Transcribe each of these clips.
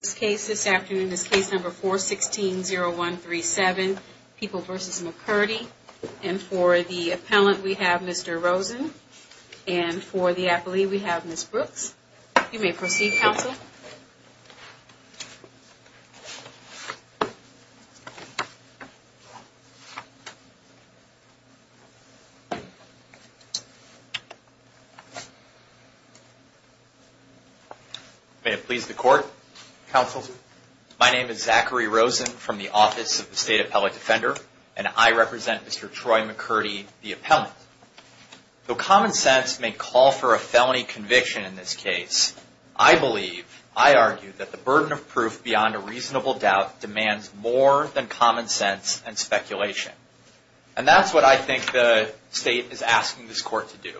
This case, this afternoon, is case number 416-0137, People v. McCurdy, and for the appellant we have Mr. Rosen, and for the appellee we have Ms. Brooks. You may proceed, counsel. May it please the court, counsel. My name is Zachary Rosen from the Office of the State Appellate Defender, and I represent Mr. Troy McCurdy, the appellant. Though common sense may call for a felony conviction in this case, I believe, I argue, that the burden of proof beyond a reasonable doubt demands more than common sense and speculation. And that's what I think the state is asking this court to do,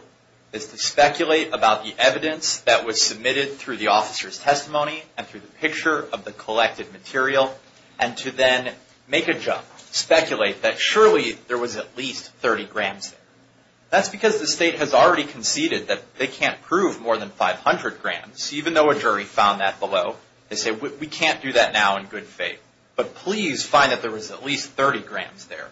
is to speculate about the evidence that was submitted through the officer's testimony and through the picture of the collected material, and to then make a jump, speculate that surely there was at least 30 grams there. That's because the state has already conceded that they can't prove more than 500 grams, even though a jury found that below. They say, we can't do that now in good faith, but please find that there was at least 30 grams there.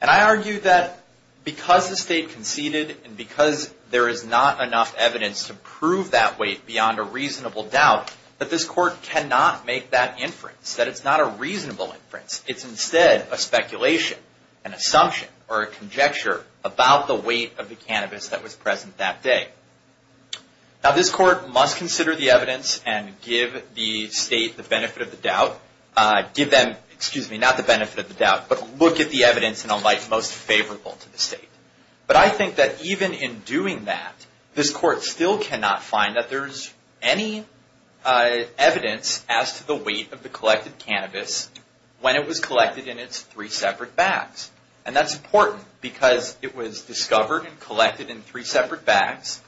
And I argue that because the state conceded, and because there is not enough evidence to prove that weight beyond a reasonable doubt, that this court cannot make that inference. That it's not a reasonable inference. It's instead a speculation, an assumption, or a conjecture about the weight of the cannabis that was present that day. Now, this court must consider the evidence and give the state the benefit of the doubt. Give them, excuse me, not the benefit of the doubt, but look at the evidence in a light most favorable to the state. But I think that even in doing that, this court still cannot find that there's any evidence as to the weight of the collected cannabis when it was collected in its three separate bags. And that's important because it was discovered and collected in three separate bags.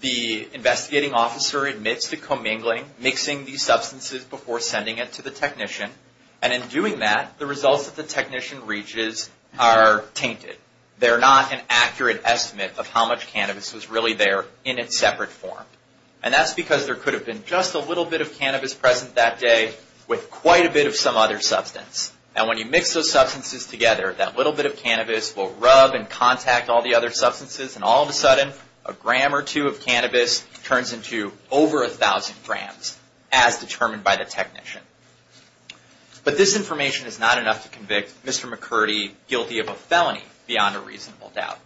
The investigating officer admits to commingling, mixing these substances before sending it to the technician. And in doing that, the results that the technician reaches are tainted. They're not an accurate estimate of how much cannabis was really there in its separate form. And that's because there could have been just a little bit of cannabis present that day with quite a bit of some other substance. And when you mix those substances together, that little bit of cannabis will rub and contact all the other substances. And all of a sudden, a gram or two of cannabis turns into over a thousand grams as determined by the technician. But this information is not enough to convict Mr. McCurdy guilty of a felony beyond a reasonable doubt.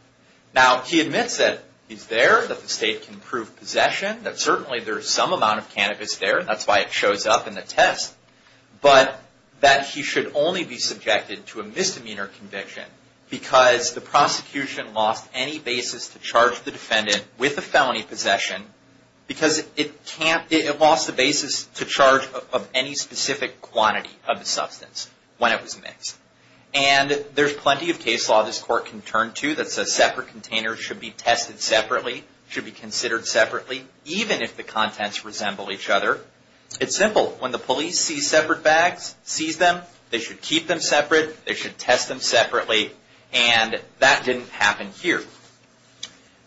Now, he admits that he's there, that the state can prove possession, that certainly there's some amount of cannabis there. And that's why it shows up in the test. But that he should only be subjected to a misdemeanor conviction because the prosecution lost any basis to charge the defendant with a felony possession because it lost the basis to charge of any specific quantity of the substance when it was mixed. And there's plenty of case law this court can turn to that says separate containers should be tested separately, should be considered separately, even if the contents resemble each other. It's simple. When the police sees separate bags, sees them, they should keep them separate, they should test them separately. And that didn't happen here.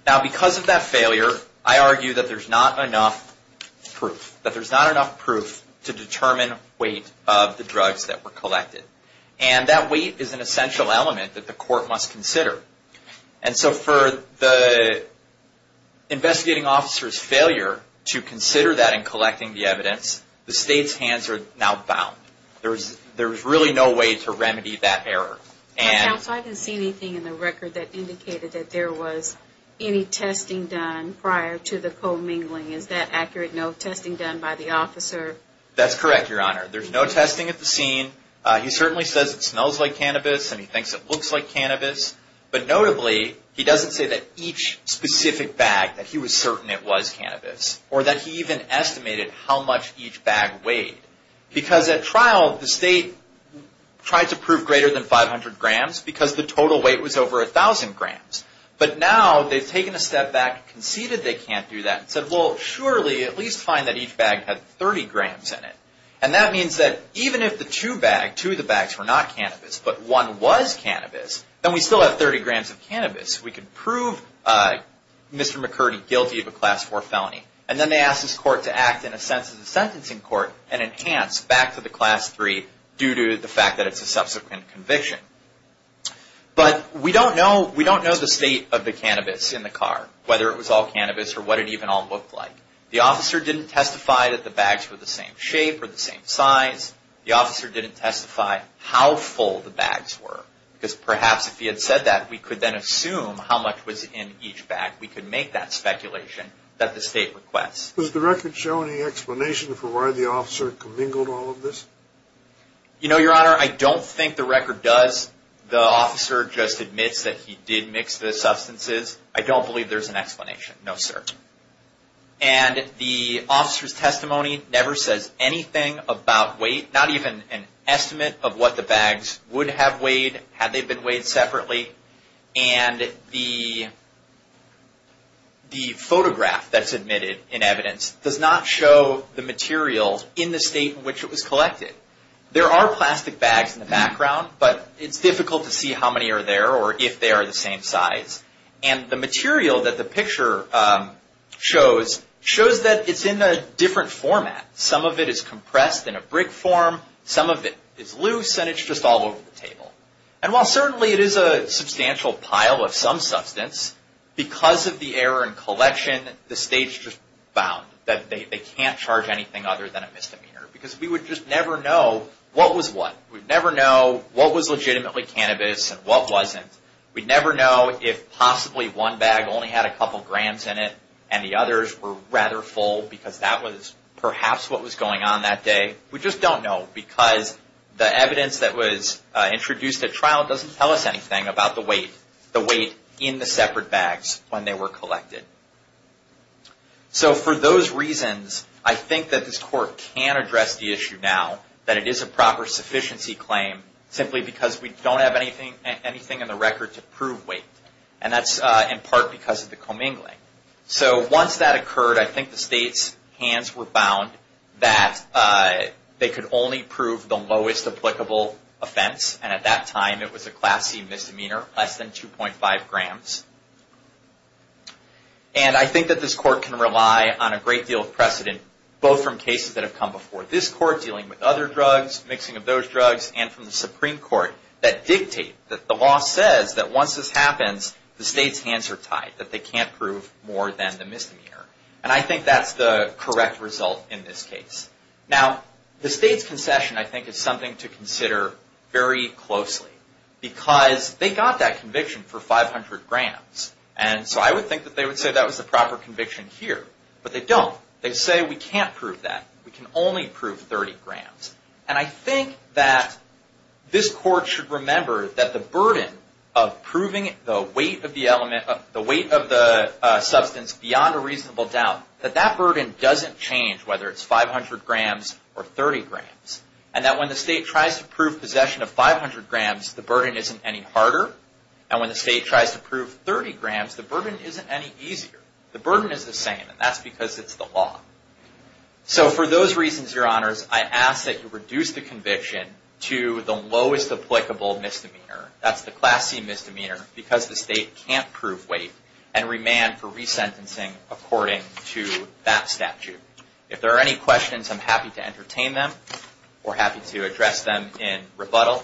Now, because of that failure, I argue that there's not enough proof, that there's not enough proof to determine weight of the drugs that were collected. And that weight is an essential element that the court must consider. And so, for the investigating officer's failure to consider that in collecting the evidence, the state's hands are now bound. There's really no way to remedy that error. Counsel, I didn't see anything in the record that indicated that there was any testing done prior to the co-mingling. Is that accurate? No testing done by the officer? That's correct, Your Honor. There's no testing at the scene. He certainly says it smells like cannabis and he thinks it looks like cannabis. But notably, he doesn't say that each specific bag, that he was certain it was cannabis, or that he even estimated how much each bag weighed. Because at trial, the state tried to prove greater than 500 grams because the total weight was over 1,000 grams. But now, they've taken a step back, conceded they can't do that, and said, well, surely at least find that each bag had 30 grams in it. And that means that even if the two bags were not cannabis, but one was cannabis, then we still have 30 grams of cannabis. We can prove Mr. McCurdy guilty of a Class 4 felony. And then they ask this court to act in a sense of the sentencing court and enhance back to the Class 3 due to the fact that it's a subsequent conviction. But we don't know the state of the cannabis in the car, whether it was all cannabis or what it even all looked like. The officer didn't testify that the bags were the same shape or the same size. The officer didn't testify how full the bags were. Because perhaps if he had said that, we could then assume how much was in each bag. We could make that speculation that the state requests. Does the record show any explanation for why the officer commingled all of this? You know, Your Honor, I don't think the record does. The officer just admits that he did mix the substances. I don't believe there's an explanation. No, sir. And the officer's testimony never says anything about weight, not even an estimate of what the bags would have weighed had they been weighed separately. And the photograph that's admitted in evidence does not show the materials in the state in which it was collected. There are plastic bags in the background, but it's difficult to see how many are there or if they are the same size. And the material that the picture shows shows that it's in a different format. Some of it is compressed in a brick form. Some of it is loose, and it's just all over the table. And while certainly it is a substantial pile of some substance, because of the error in collection, the state's just bound that they can't charge anything other than a misdemeanor. Because we would just never know what was what. We'd never know what was legitimately cannabis and what wasn't. We'd never know if possibly one bag only had a couple grams in it and the others were rather full because that was perhaps what was going on that day. We just don't know because the evidence that was introduced at trial doesn't tell us anything about the weight in the separate bags when they were collected. So for those reasons, I think that this Court can address the issue now that it is a proper sufficiency claim simply because we don't have anything in the record to prove weight. And that's in part because of the commingling. So once that occurred, I think the state's hands were bound that they could only prove the lowest applicable offense. And at that time it was a Class C misdemeanor, less than 2.5 grams. And I think that this Court can rely on a great deal of precedent both from cases that have come before this Court dealing with other drugs, mixing of those drugs, and from the Supreme Court that dictate that the law says that once this happens, the state's hands are tied, that they can't prove more than the misdemeanor. And I think that's the correct result in this case. Now, the state's concession, I think, is something to consider very closely because they got that conviction for 500 grams. And so I would think that they would say that was the proper conviction here. But they don't. They say we can't prove that. We can only prove 30 grams. And I think that this Court should remember that the burden of proving the weight of the substance beyond a reasonable doubt, that that burden doesn't change whether it's 500 grams or 30 grams. And that when the state tries to prove possession of 500 grams, the burden isn't any harder. And when the state tries to prove 30 grams, the burden isn't any easier. The burden is the same, and that's because it's the law. So for those reasons, Your Honors, I ask that you reduce the conviction to the lowest applicable misdemeanor. That's the Class C misdemeanor because the state can't prove weight and remand for resentencing according to that statute. If there are any questions, I'm happy to entertain them. We're happy to address them in rebuttal.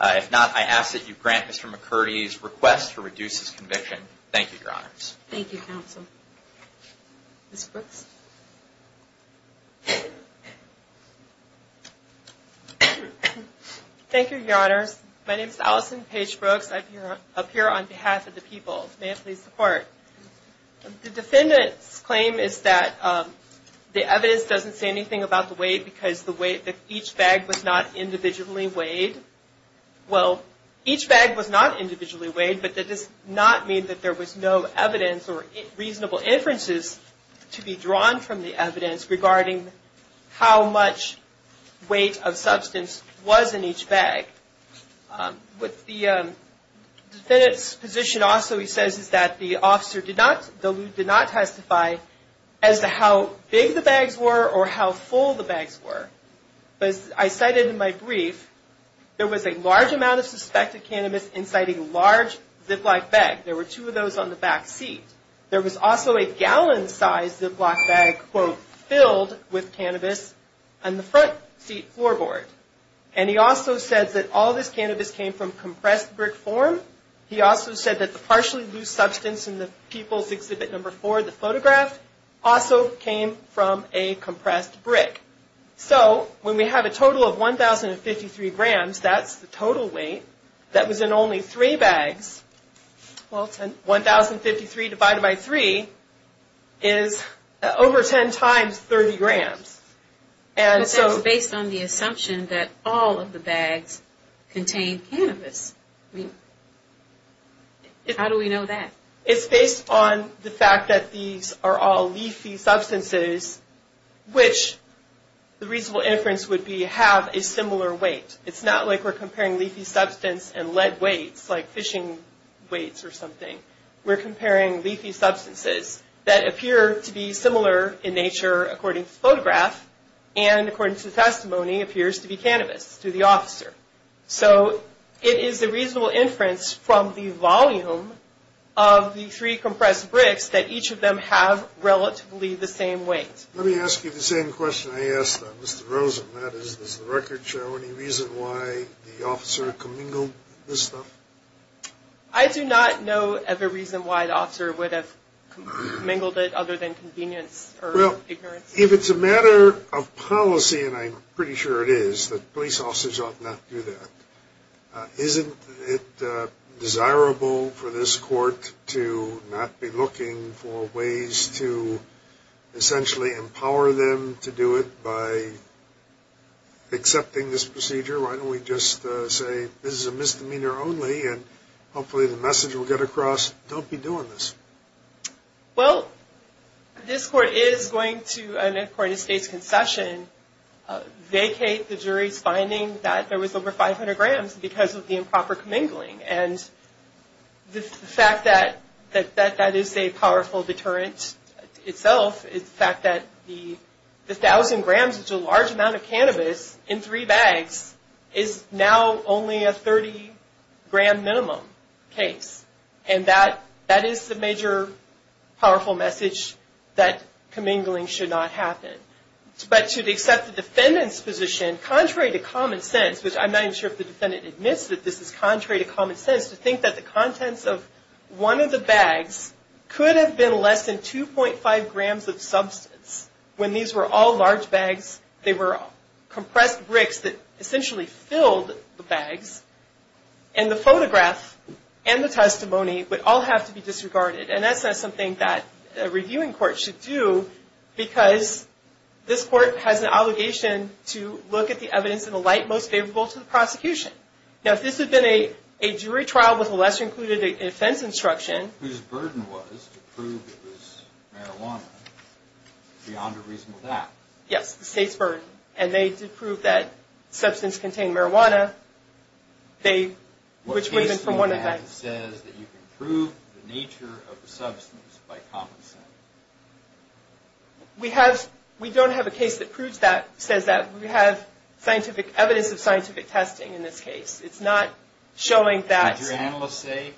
If not, I ask that you grant Mr. McCurdy's request to reduce his conviction. Thank you, Your Honors. Thank you, Counsel. Ms. Brooks? Thank you, Your Honors. My name is Allison Paige Brooks. I appear on behalf of the people. May I please depart? The defendant's claim is that the evidence doesn't say anything about the weight because the weight of each bag was not individually weighed. Well, each bag was not individually weighed, but that does not mean that there was no evidence or reasonable inferences to be drawn from the evidence regarding how much weight of substance was in each bag. What the defendant's position also says is that the officer did not testify as to how big the bags were or how full the bags were. But as I cited in my brief, there was a large amount of suspected cannabis inciting a large Ziploc bag. There were two of those on the back seat. There was also a gallon-sized Ziploc bag, quote, filled with cannabis on the front seat floorboard. And he also said that all this cannabis came from compressed brick form. He also said that the partially loose substance in the People's Exhibit No. 4, the photograph, also came from a compressed brick. So, when we have a total of 1,053 grams, that's the total weight, that was in only three bags. Well, 1,053 divided by 3 is over 10 times 30 grams. And so... But that's based on the assumption that all of the bags contained cannabis. I mean, how do we know that? It's based on the fact that these are all leafy substances, which the reasonable inference would be have a similar weight. It's not like we're comparing leafy substance and lead weights, like fishing weights or something. We're comparing leafy substances that appear to be similar in nature, according to the photograph, and according to the testimony, appears to be cannabis, to the officer. So, it is a reasonable inference from the volume of the three compressed bricks that each of them have relatively the same weight. Let me ask you the same question I asked on Mr. Rosen, and that is, does the record show any reason why the officer commingled this stuff? I do not know of a reason why the officer would have commingled it other than convenience or ignorance. Well, if it's a matter of policy, and I'm pretty sure it is, that police officers ought not do that. Isn't it desirable for this court to not be looking for ways to essentially empower them to do it by accepting this procedure? Why don't we just say, this is a misdemeanor only, and hopefully the message will get across, don't be doing this. Well, this court is going to, and according to State's concession, vacate the jury's finding that there was over 500 grams because of the improper commingling. And the fact that that is a powerful deterrent itself is the fact that the 1,000 grams, which is a large amount of cannabis, in three bags, is now only a 30 gram minimum case. And that is the major powerful message that commingling should not happen. But to accept the defendant's position, contrary to common sense, which I'm not even sure if the defendant admits that this is contrary to common sense, to think that the contents of one of the bags could have been less than 2.5 grams of substance when these were all large bags, they were compressed bricks that essentially filled the bags, and the photograph and the testimony would all have to be disregarded. And that's not something that a reviewing court should do because this court has an obligation to look at the evidence in the light most favorable to the prosecution. Now, if this had been a jury trial with a lesser-included offense instruction... Whose burden was to prove it was marijuana, beyond a reasonable doubt. Yes, the State's burden. And they did prove that substance contained marijuana, which was from one of the bags. What case do you have that says that you can prove the nature of the substance by common sense? We don't have a case that proves that, that says that we have evidence of scientific testing in this case. It's not showing that... Did your analyst say,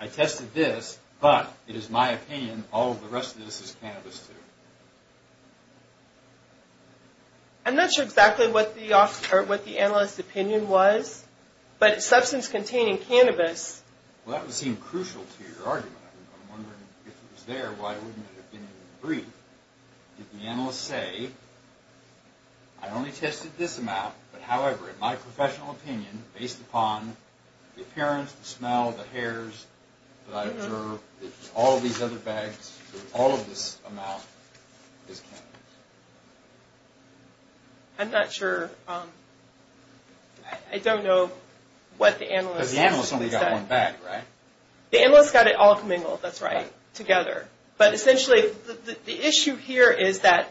I tested this, but it is my opinion all of the rest of this is cannabis, too? I'm not sure exactly what the analyst's opinion was, but substance containing cannabis... Well, that would seem crucial to your argument. I'm wondering if it was there, why wouldn't it have been in the brief? Did the analyst say, I only tested this amount, but however, in my professional opinion, based upon the appearance, the smell, the hairs that I observed, all of these other bags, all of this amount is cannabis? I'm not sure. I don't know what the analyst... Because the analyst only got one bag, right? The analyst got it all commingled, that's right, together. But essentially, the issue here is that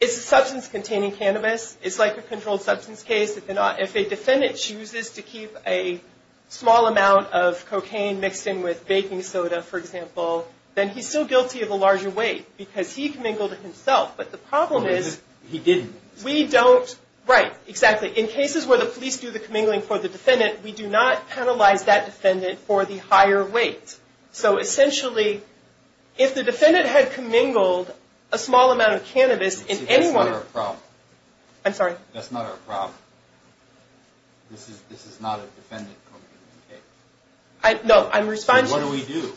it's a substance containing cannabis, it's like a controlled substance case. If a defendant chooses to keep a small amount of cocaine mixed in with baking soda, for example, then he's still guilty of a larger weight because he commingled it himself. But the problem is... He didn't. We don't... Right, exactly. In cases where the police do the commingling for the defendant, we do not penalize that defendant for the higher weight. So essentially, if the defendant had commingled a small amount of cannabis in any one... See, that's not our problem. I'm sorry? That's not our problem. This is not a defendant commingling case. No, I'm responding... So what do we do?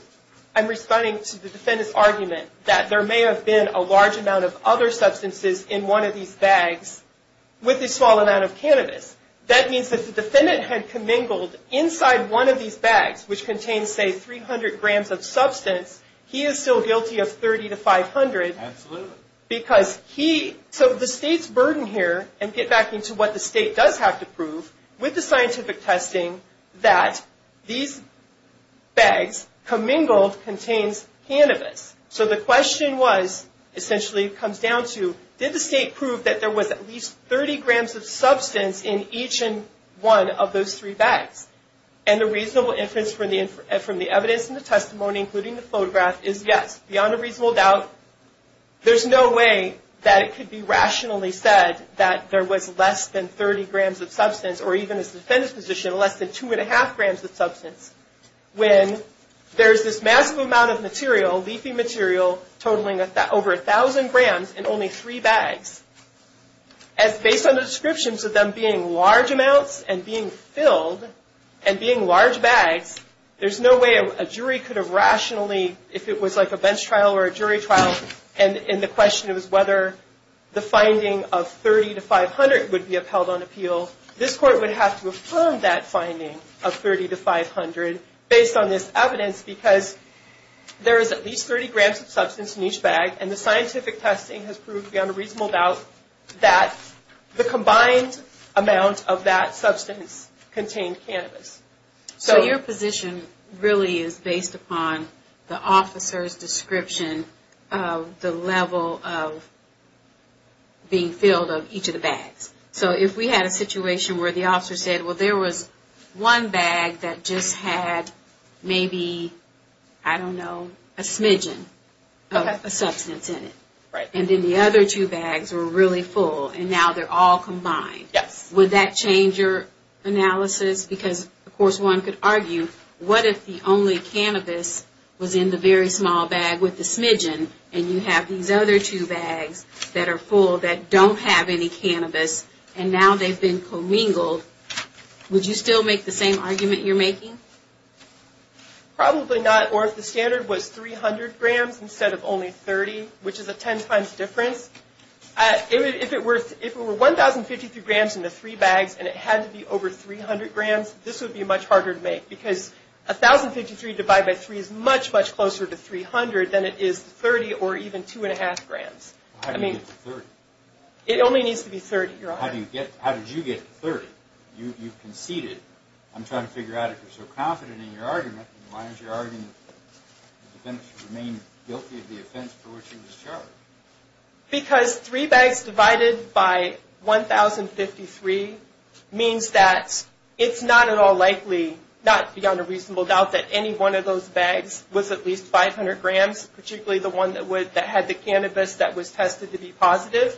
I'm responding to the defendant's argument that there may have been a large amount of other substances in one of these bags with a small amount of cannabis. That means that the defendant had commingled inside one of these bags which contains, say, 300 grams of substance. He is still guilty of 30 to 500. Absolutely. Because he... So the state's burden here... And get back into what the state does have to prove with the scientific testing that these bags commingled contains cannabis. So the question was... Essentially, it comes down to did the state prove that there was at least 30 grams of substance in each one of those three bags? And the reasonable inference from the evidence and the testimony including the photograph is yes. Beyond a reasonable doubt there's no way that it could be rationally said that there was less than 30 grams of substance or even as the defendant's position less than 2.5 grams of substance when there's this massive amount of material leafy material totaling over 1,000 grams in only three bags as based on the descriptions of them being large amounts and being filled and being large bags there's no way a jury could have rationally if it was like a bench trial or a jury trial and the question was whether the finding of 30 to 500 would be upheld on appeal this court would have to affirm that finding of 30 to 500 based on this evidence because there is at least 30 grams of substance in each bag and the scientific testing has proved beyond a reasonable doubt that the combined amount of that substance contained cannabis So your position really is based upon the officer's description of the level of being filled of each of the bags so if we had a situation where the officer said well there was one bag that just had maybe I don't know a smidgen of a substance in it and then the other two bags were really full and now they're all combined would that change your analysis because of course one could argue what if the only cannabis was in the very small bag with the smidgen and you have these other two bags that are full that don't have any cannabis and now they've been commingled would you still make the same argument you're making? Probably not or if the standard was 300 grams instead of only 30 which is a 10 times difference if it were 1,053 grams in the three bags and it had to be over 300 grams this would be much harder to make because 1,053 divided by 3 is much much closer to 300 than it is to 30 or even 2.5 grams It only needs to be 30 How did you get to 30? You conceded I'm trying to figure out if you're so confident in your argument why is your argument that the defense would remain guilty of the offense for which it was charged? Because three bags divided by 1,053 means that it's not at all likely not beyond a reasonable doubt that any one of those bags was at least 500 grams particularly the one that had the cannabis that was tested to be positive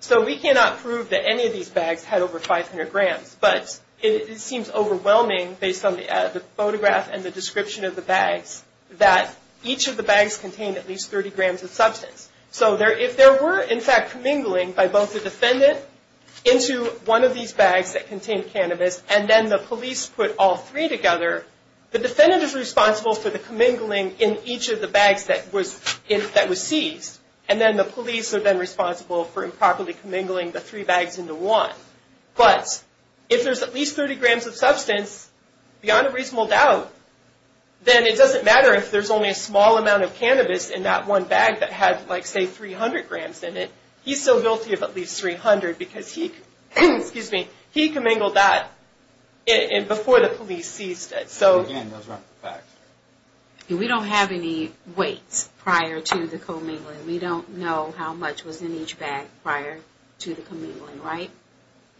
so we cannot prove that any of these bags had over 500 grams but it seems overwhelming based on the photograph and the description of the bags that each of the bags contained at least 30 grams of substance so if there were in fact commingling by both the defendant into one of these bags that contained cannabis and then the police put all three together the defendant is responsible for the commingling in each of the bags that was seized and then the police are then responsible for improperly commingling the three bags into one but if there's at least 30 grams of substance beyond a reasonable doubt then it doesn't matter if there's only a small amount of cannabis in that one bag that had like say 300 grams in it, he's still guilty of at least 300 because he commingled that before the police seized it we don't have any weights prior to the commingling we don't know how much was in each bag prior to the commingling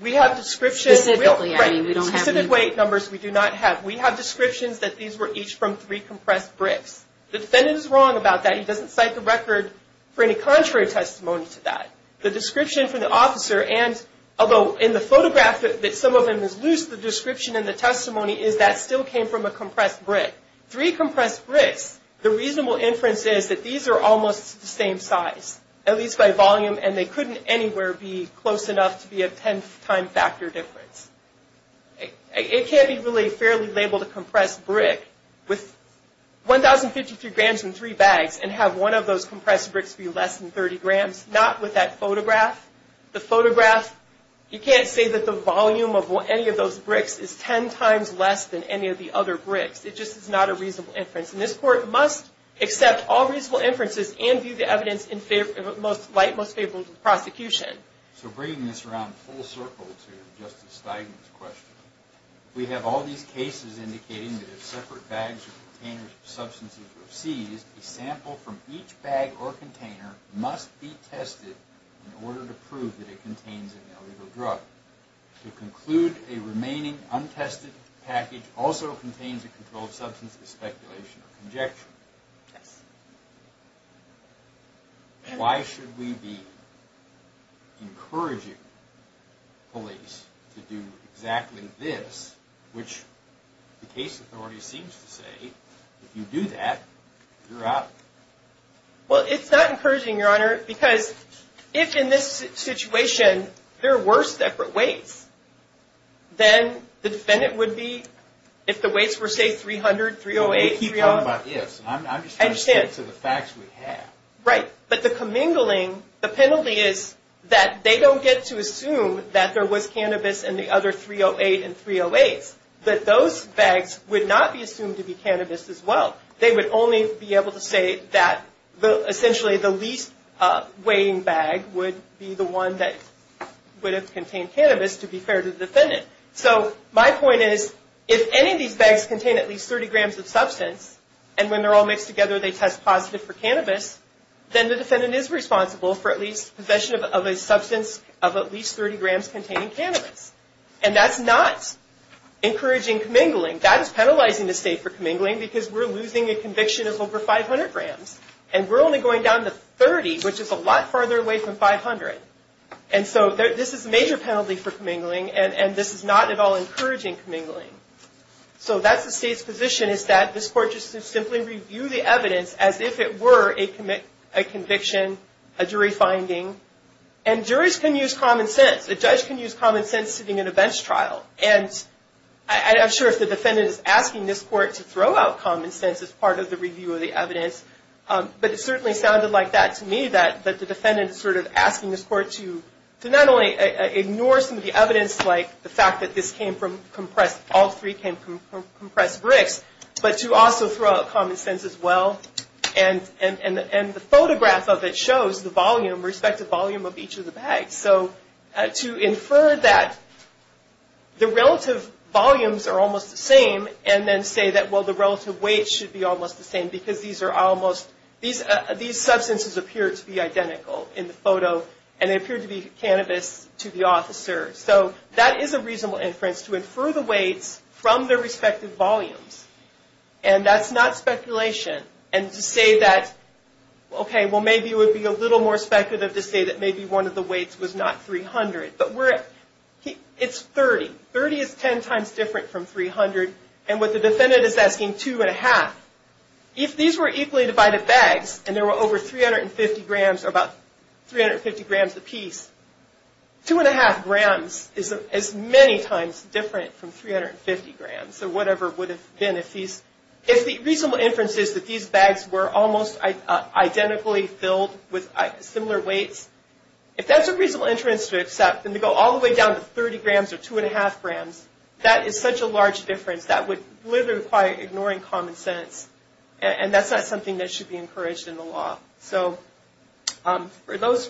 we have descriptions specific weight numbers we do not have we have descriptions that these were each from three compressed bricks the defendant is wrong about that he doesn't cite the record for any contrary testimony to that although in the photograph that some of them is loose the description in the testimony is that still came from a compressed brick three compressed bricks the reasonable inference is that these are almost the same size at least by volume and they couldn't anywhere be close enough to be a tenth time factor difference it can't be really fairly labeled a compressed brick with 1053 grams in three bags and have one of those compressed bricks be less than 30 grams, not with that photograph the photograph you can't say that the volume of any of those bricks is ten times less than any of the other bricks it just is not a reasonable inference and this court must accept all reasonable inferences and view the evidence in light most favorable to the prosecution so bringing this around full circle to Justice Steigman's question we have all these cases indicating that if separate bags or containers of substances were seized a sample from each bag or container must be tested in order to prove that it contains an illegal drug to conclude a remaining untested package also contains a controlled substance of speculation or conjecture why should we be encouraging police to do exactly this which the case authority seems to say if you do that you're out if in this situation there were separate weights then the defendant if the weights were say 300, 308, 309 I'm just going to stick to the facts we have right but the commingling the penalty is that they don't get to assume that there was cannabis in the other 308 and 308's that those bags would not be assumed to be cannabis as well, they would only be able to say the least weighing bag would be the one that would have contained cannabis to be fair to the defendant so my point is if any of these bags contain at least 30 grams of substance and when they're all mixed together they test positive for cannabis then the defendant is responsible for at least possession of a substance of at least 30 grams containing cannabis and that's not encouraging commingling that is penalizing the state for commingling because we're losing a conviction of over 500 grams and we're only going down to 30 which is a lot farther away from 500 and so this is a major penalty for commingling and this is not at all encouraging commingling so that's the state's position is that this court should simply review the evidence as if it were a conviction, a jury finding and juries can use common sense a judge can use common sense sitting in a bench trial and I'm sure if the defendant is asking this court to throw out common sense as part of the review of the evidence but it certainly sounded like that to me that the defendant is sort of asking this court to not only ignore some of the evidence like the fact that this came from compressed, all three came from compressed bricks but to also throw out common sense as well and the photograph of it shows the volume respective volume of each of the bags so to infer that the relative volumes are almost the same and then say that well the relative weight should be almost the same because these substances appear to be cannabis to the officer so that is a reasonable inference to infer the weights from their respective volumes and that's not speculation and to say that well maybe it would be a little more speculative to say that maybe one of the weights was not 300 but we're at it's 30, 30 is 10 times different from 300 and what the defendant is asking two and a half if these were equally divided bags and there were over 350 grams or about 350 grams a piece two and a half grams is many times different from 350 grams or whatever it would have been if the reasonable inference is that these bags were almost identically filled with similar weights if that's a reasonable inference to accept then to go all the way down to 30 grams or two and a half grams that is such a large difference that would literally require ignoring common sense and that's not something that should be encouraged in the law so for those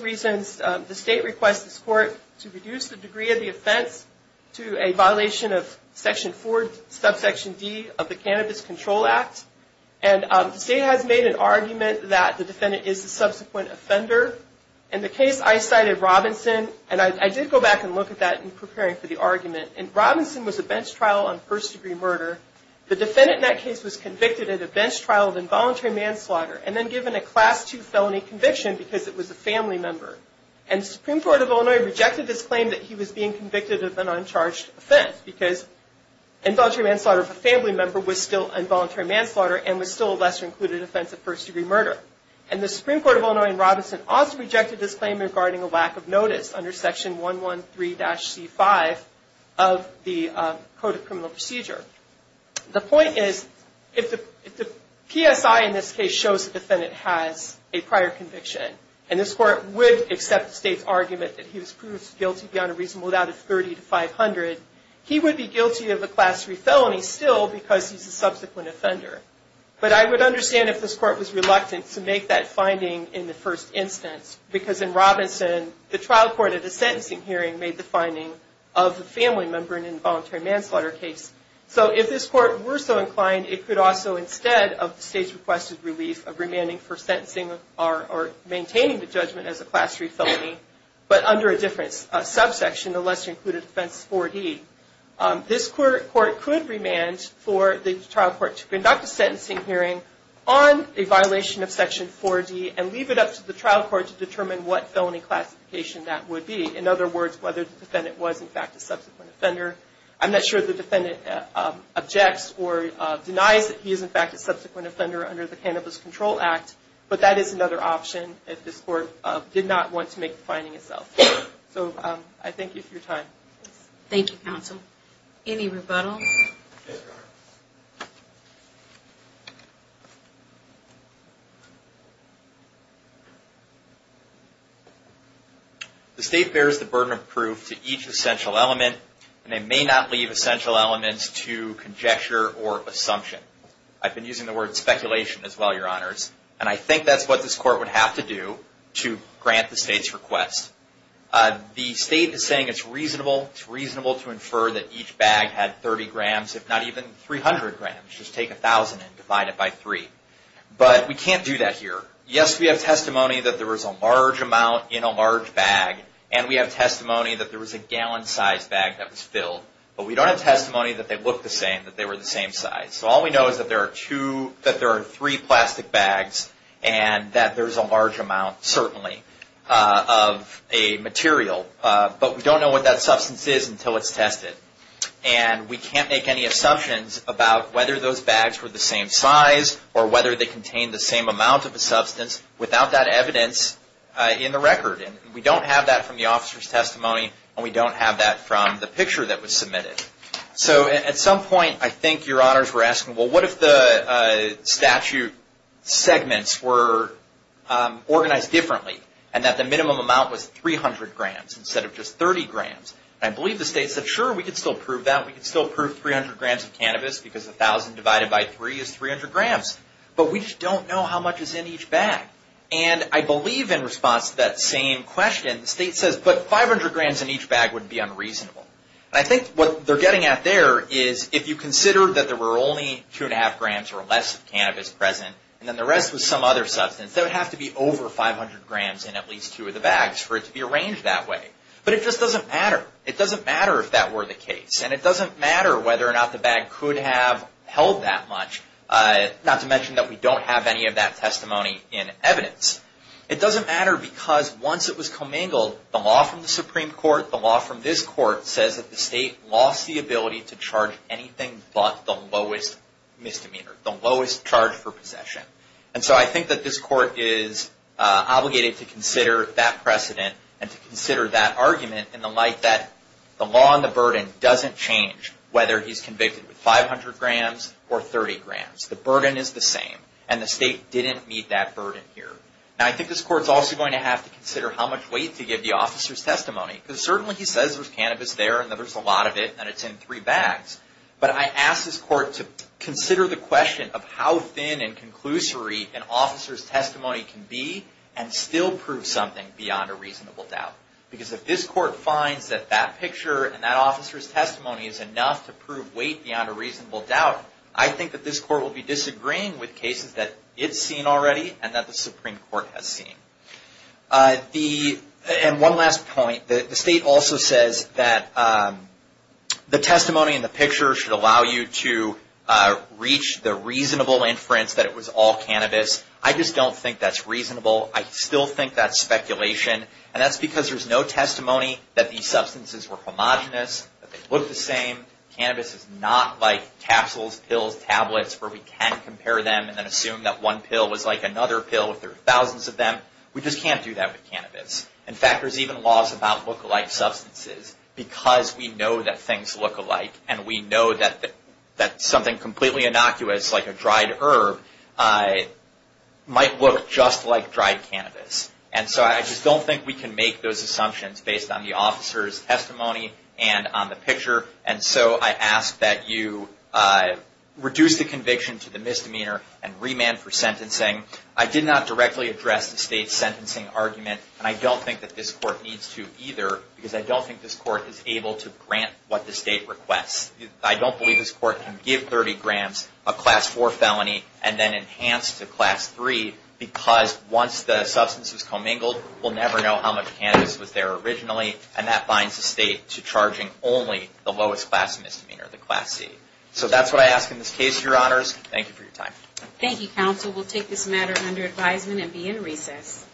reasons the state requests this court to reduce the degree of the offense to a violation of section 4 subsection D of the Cannabis Control Act and the state has made an argument that the defendant is the subsequent offender in the case I cited Robinson and I did go back and look at that in preparing for the argument and Robinson was a bench trial on first degree murder the defendant in that case was convicted at a bench trial of involuntary manslaughter and then given a class 2 felony conviction because it was a family member and the Supreme Court of Illinois rejected this claim that he was being convicted of an uncharged offense because involuntary manslaughter of a family member was still involuntary manslaughter and was still a lesser included offense of first degree murder and the Supreme Court of Illinois and Robinson also rejected this claim regarding a lack of notice under section 113-C5 of the the point is if the PSI in this case shows the defendant has a prior conviction and this court would accept the state's argument that he was proven guilty beyond a reasonable doubt of 30 to 500 he would be guilty of a class 3 felony still because he's a subsequent offender but I would understand if this court was reluctant to make that finding in the first instance because in Robinson the trial court at a sentencing hearing made the finding of a family member in an involuntary manslaughter case so if this court were so inclined it could also instead of the state's requested relief of remanding for sentencing or maintaining the judgment as a class 3 felony but under a different subsection a lesser included offense 4D this court could remand for the trial court to conduct a sentencing hearing on a violation of section 4D and leave it up to the trial court to determine what felony classification that would be in other words whether the defendant was in fact a subsequent offender I'm not sure if the defendant objects or denies that he is in fact a subsequent offender under the Cannabis Control Act but that is another option if this court did not want to make the finding itself so I thank you for your time thank you counsel any rebuttal yes your honor the state bears the burden of proof to each essential element and they may not leave essential elements to conjecture or assumption I've been using the word speculation as well your honors and I think that's what this court would have to do to grant the state's request the state is saying it's reasonable to infer that each bag had 30 grams if not even 300 grams just take 1000 and divide it by 3 but we can't do that here yes we have testimony that there was a large amount in a large bag and we have testimony that there was a gallon size bag that was filled but we don't have testimony that they looked the same that they were the same size so all we know is that there are 3 plastic bags and that there is a large amount certainly of a material but we don't know what that substance is until it's tested and we can't make any assumptions about whether those bags were the same size or whether they contained the same amount of a substance without that evidence in the record we don't have that from the officer's testimony and we don't have that from the picture that was submitted so at some point I think your honors were asking what if the statute segments were organized differently and that the minimum amount was 300 grams instead of just 30 grams and I believe the state said sure we can still prove that we can still prove 300 grams of cannabis because 1000 divided by 3 is 300 grams but we just don't know how much is in each bag and I believe in response to that same question the state says but 500 grams in each bag would be unreasonable and I think what they're getting at there is if you consider that there were only 2.5 grams or less of cannabis present and then the rest was some other substance there would have to be over 500 grams in at least 2 of the bags for it to be arranged that way but it just doesn't matter it doesn't matter if that were the case and it doesn't matter whether or not the bag could have held that much not to mention that we don't have any of that testimony in evidence it doesn't matter because once it was commingled the law from the Supreme Court the law from this court says that the state lost the ability to charge anything but the lowest misdemeanor, the lowest charge for possession and so I think that this court is obligated to consider that precedent and to consider that argument in the light that the law and the burden doesn't change whether he's convicted with 500 grams or 30 grams the burden is the same and the state didn't meet that burden here and I think this court is also going to have to consider how much weight to give the officer's testimony because certainly he says there's cannabis there and there's a lot of it and it's in 3 bags but I ask this court to consider the question of how thin and can be and still prove something beyond a reasonable doubt because if this court finds that that picture and that officer's testimony is enough to prove weight beyond a reasonable doubt, I think that this court will be disagreeing with cases that it's seen already and that the Supreme Court has seen and one last point the state also says that the testimony in the picture should allow you to reach the reasonable inference that it was all cannabis. I just don't think that's reasonable. I still think that's speculation and that's because there's no testimony that these substances were homogenous, that they look the same cannabis is not like capsules, pills, tablets where we can compare them and then assume that one pill was like another pill if there were thousands of them we just can't do that with cannabis in fact there's even laws about look-alike substances because we know that things look alike and we know that something completely innocuous like a dried herb might look just like dried cannabis and so I just don't think we can make those assumptions based on the officer's testimony and on the picture and so I ask that you reduce the conviction to the misdemeanor and remand for sentencing I did not directly address the state's sentencing argument and I don't think that this court needs to either because I don't think this court is able to grant what the state requests. I don't believe this court can give 30 grams a class 4 felony and then enhance to class 3 because once the substance is commingled we'll never know how much cannabis was there originally and that binds the state to charging only the lowest class misdemeanor, the class C. So that's what I ask in this case your honors. Thank you for your time. Thank you counsel. We'll take this matter under advisement and be in recess.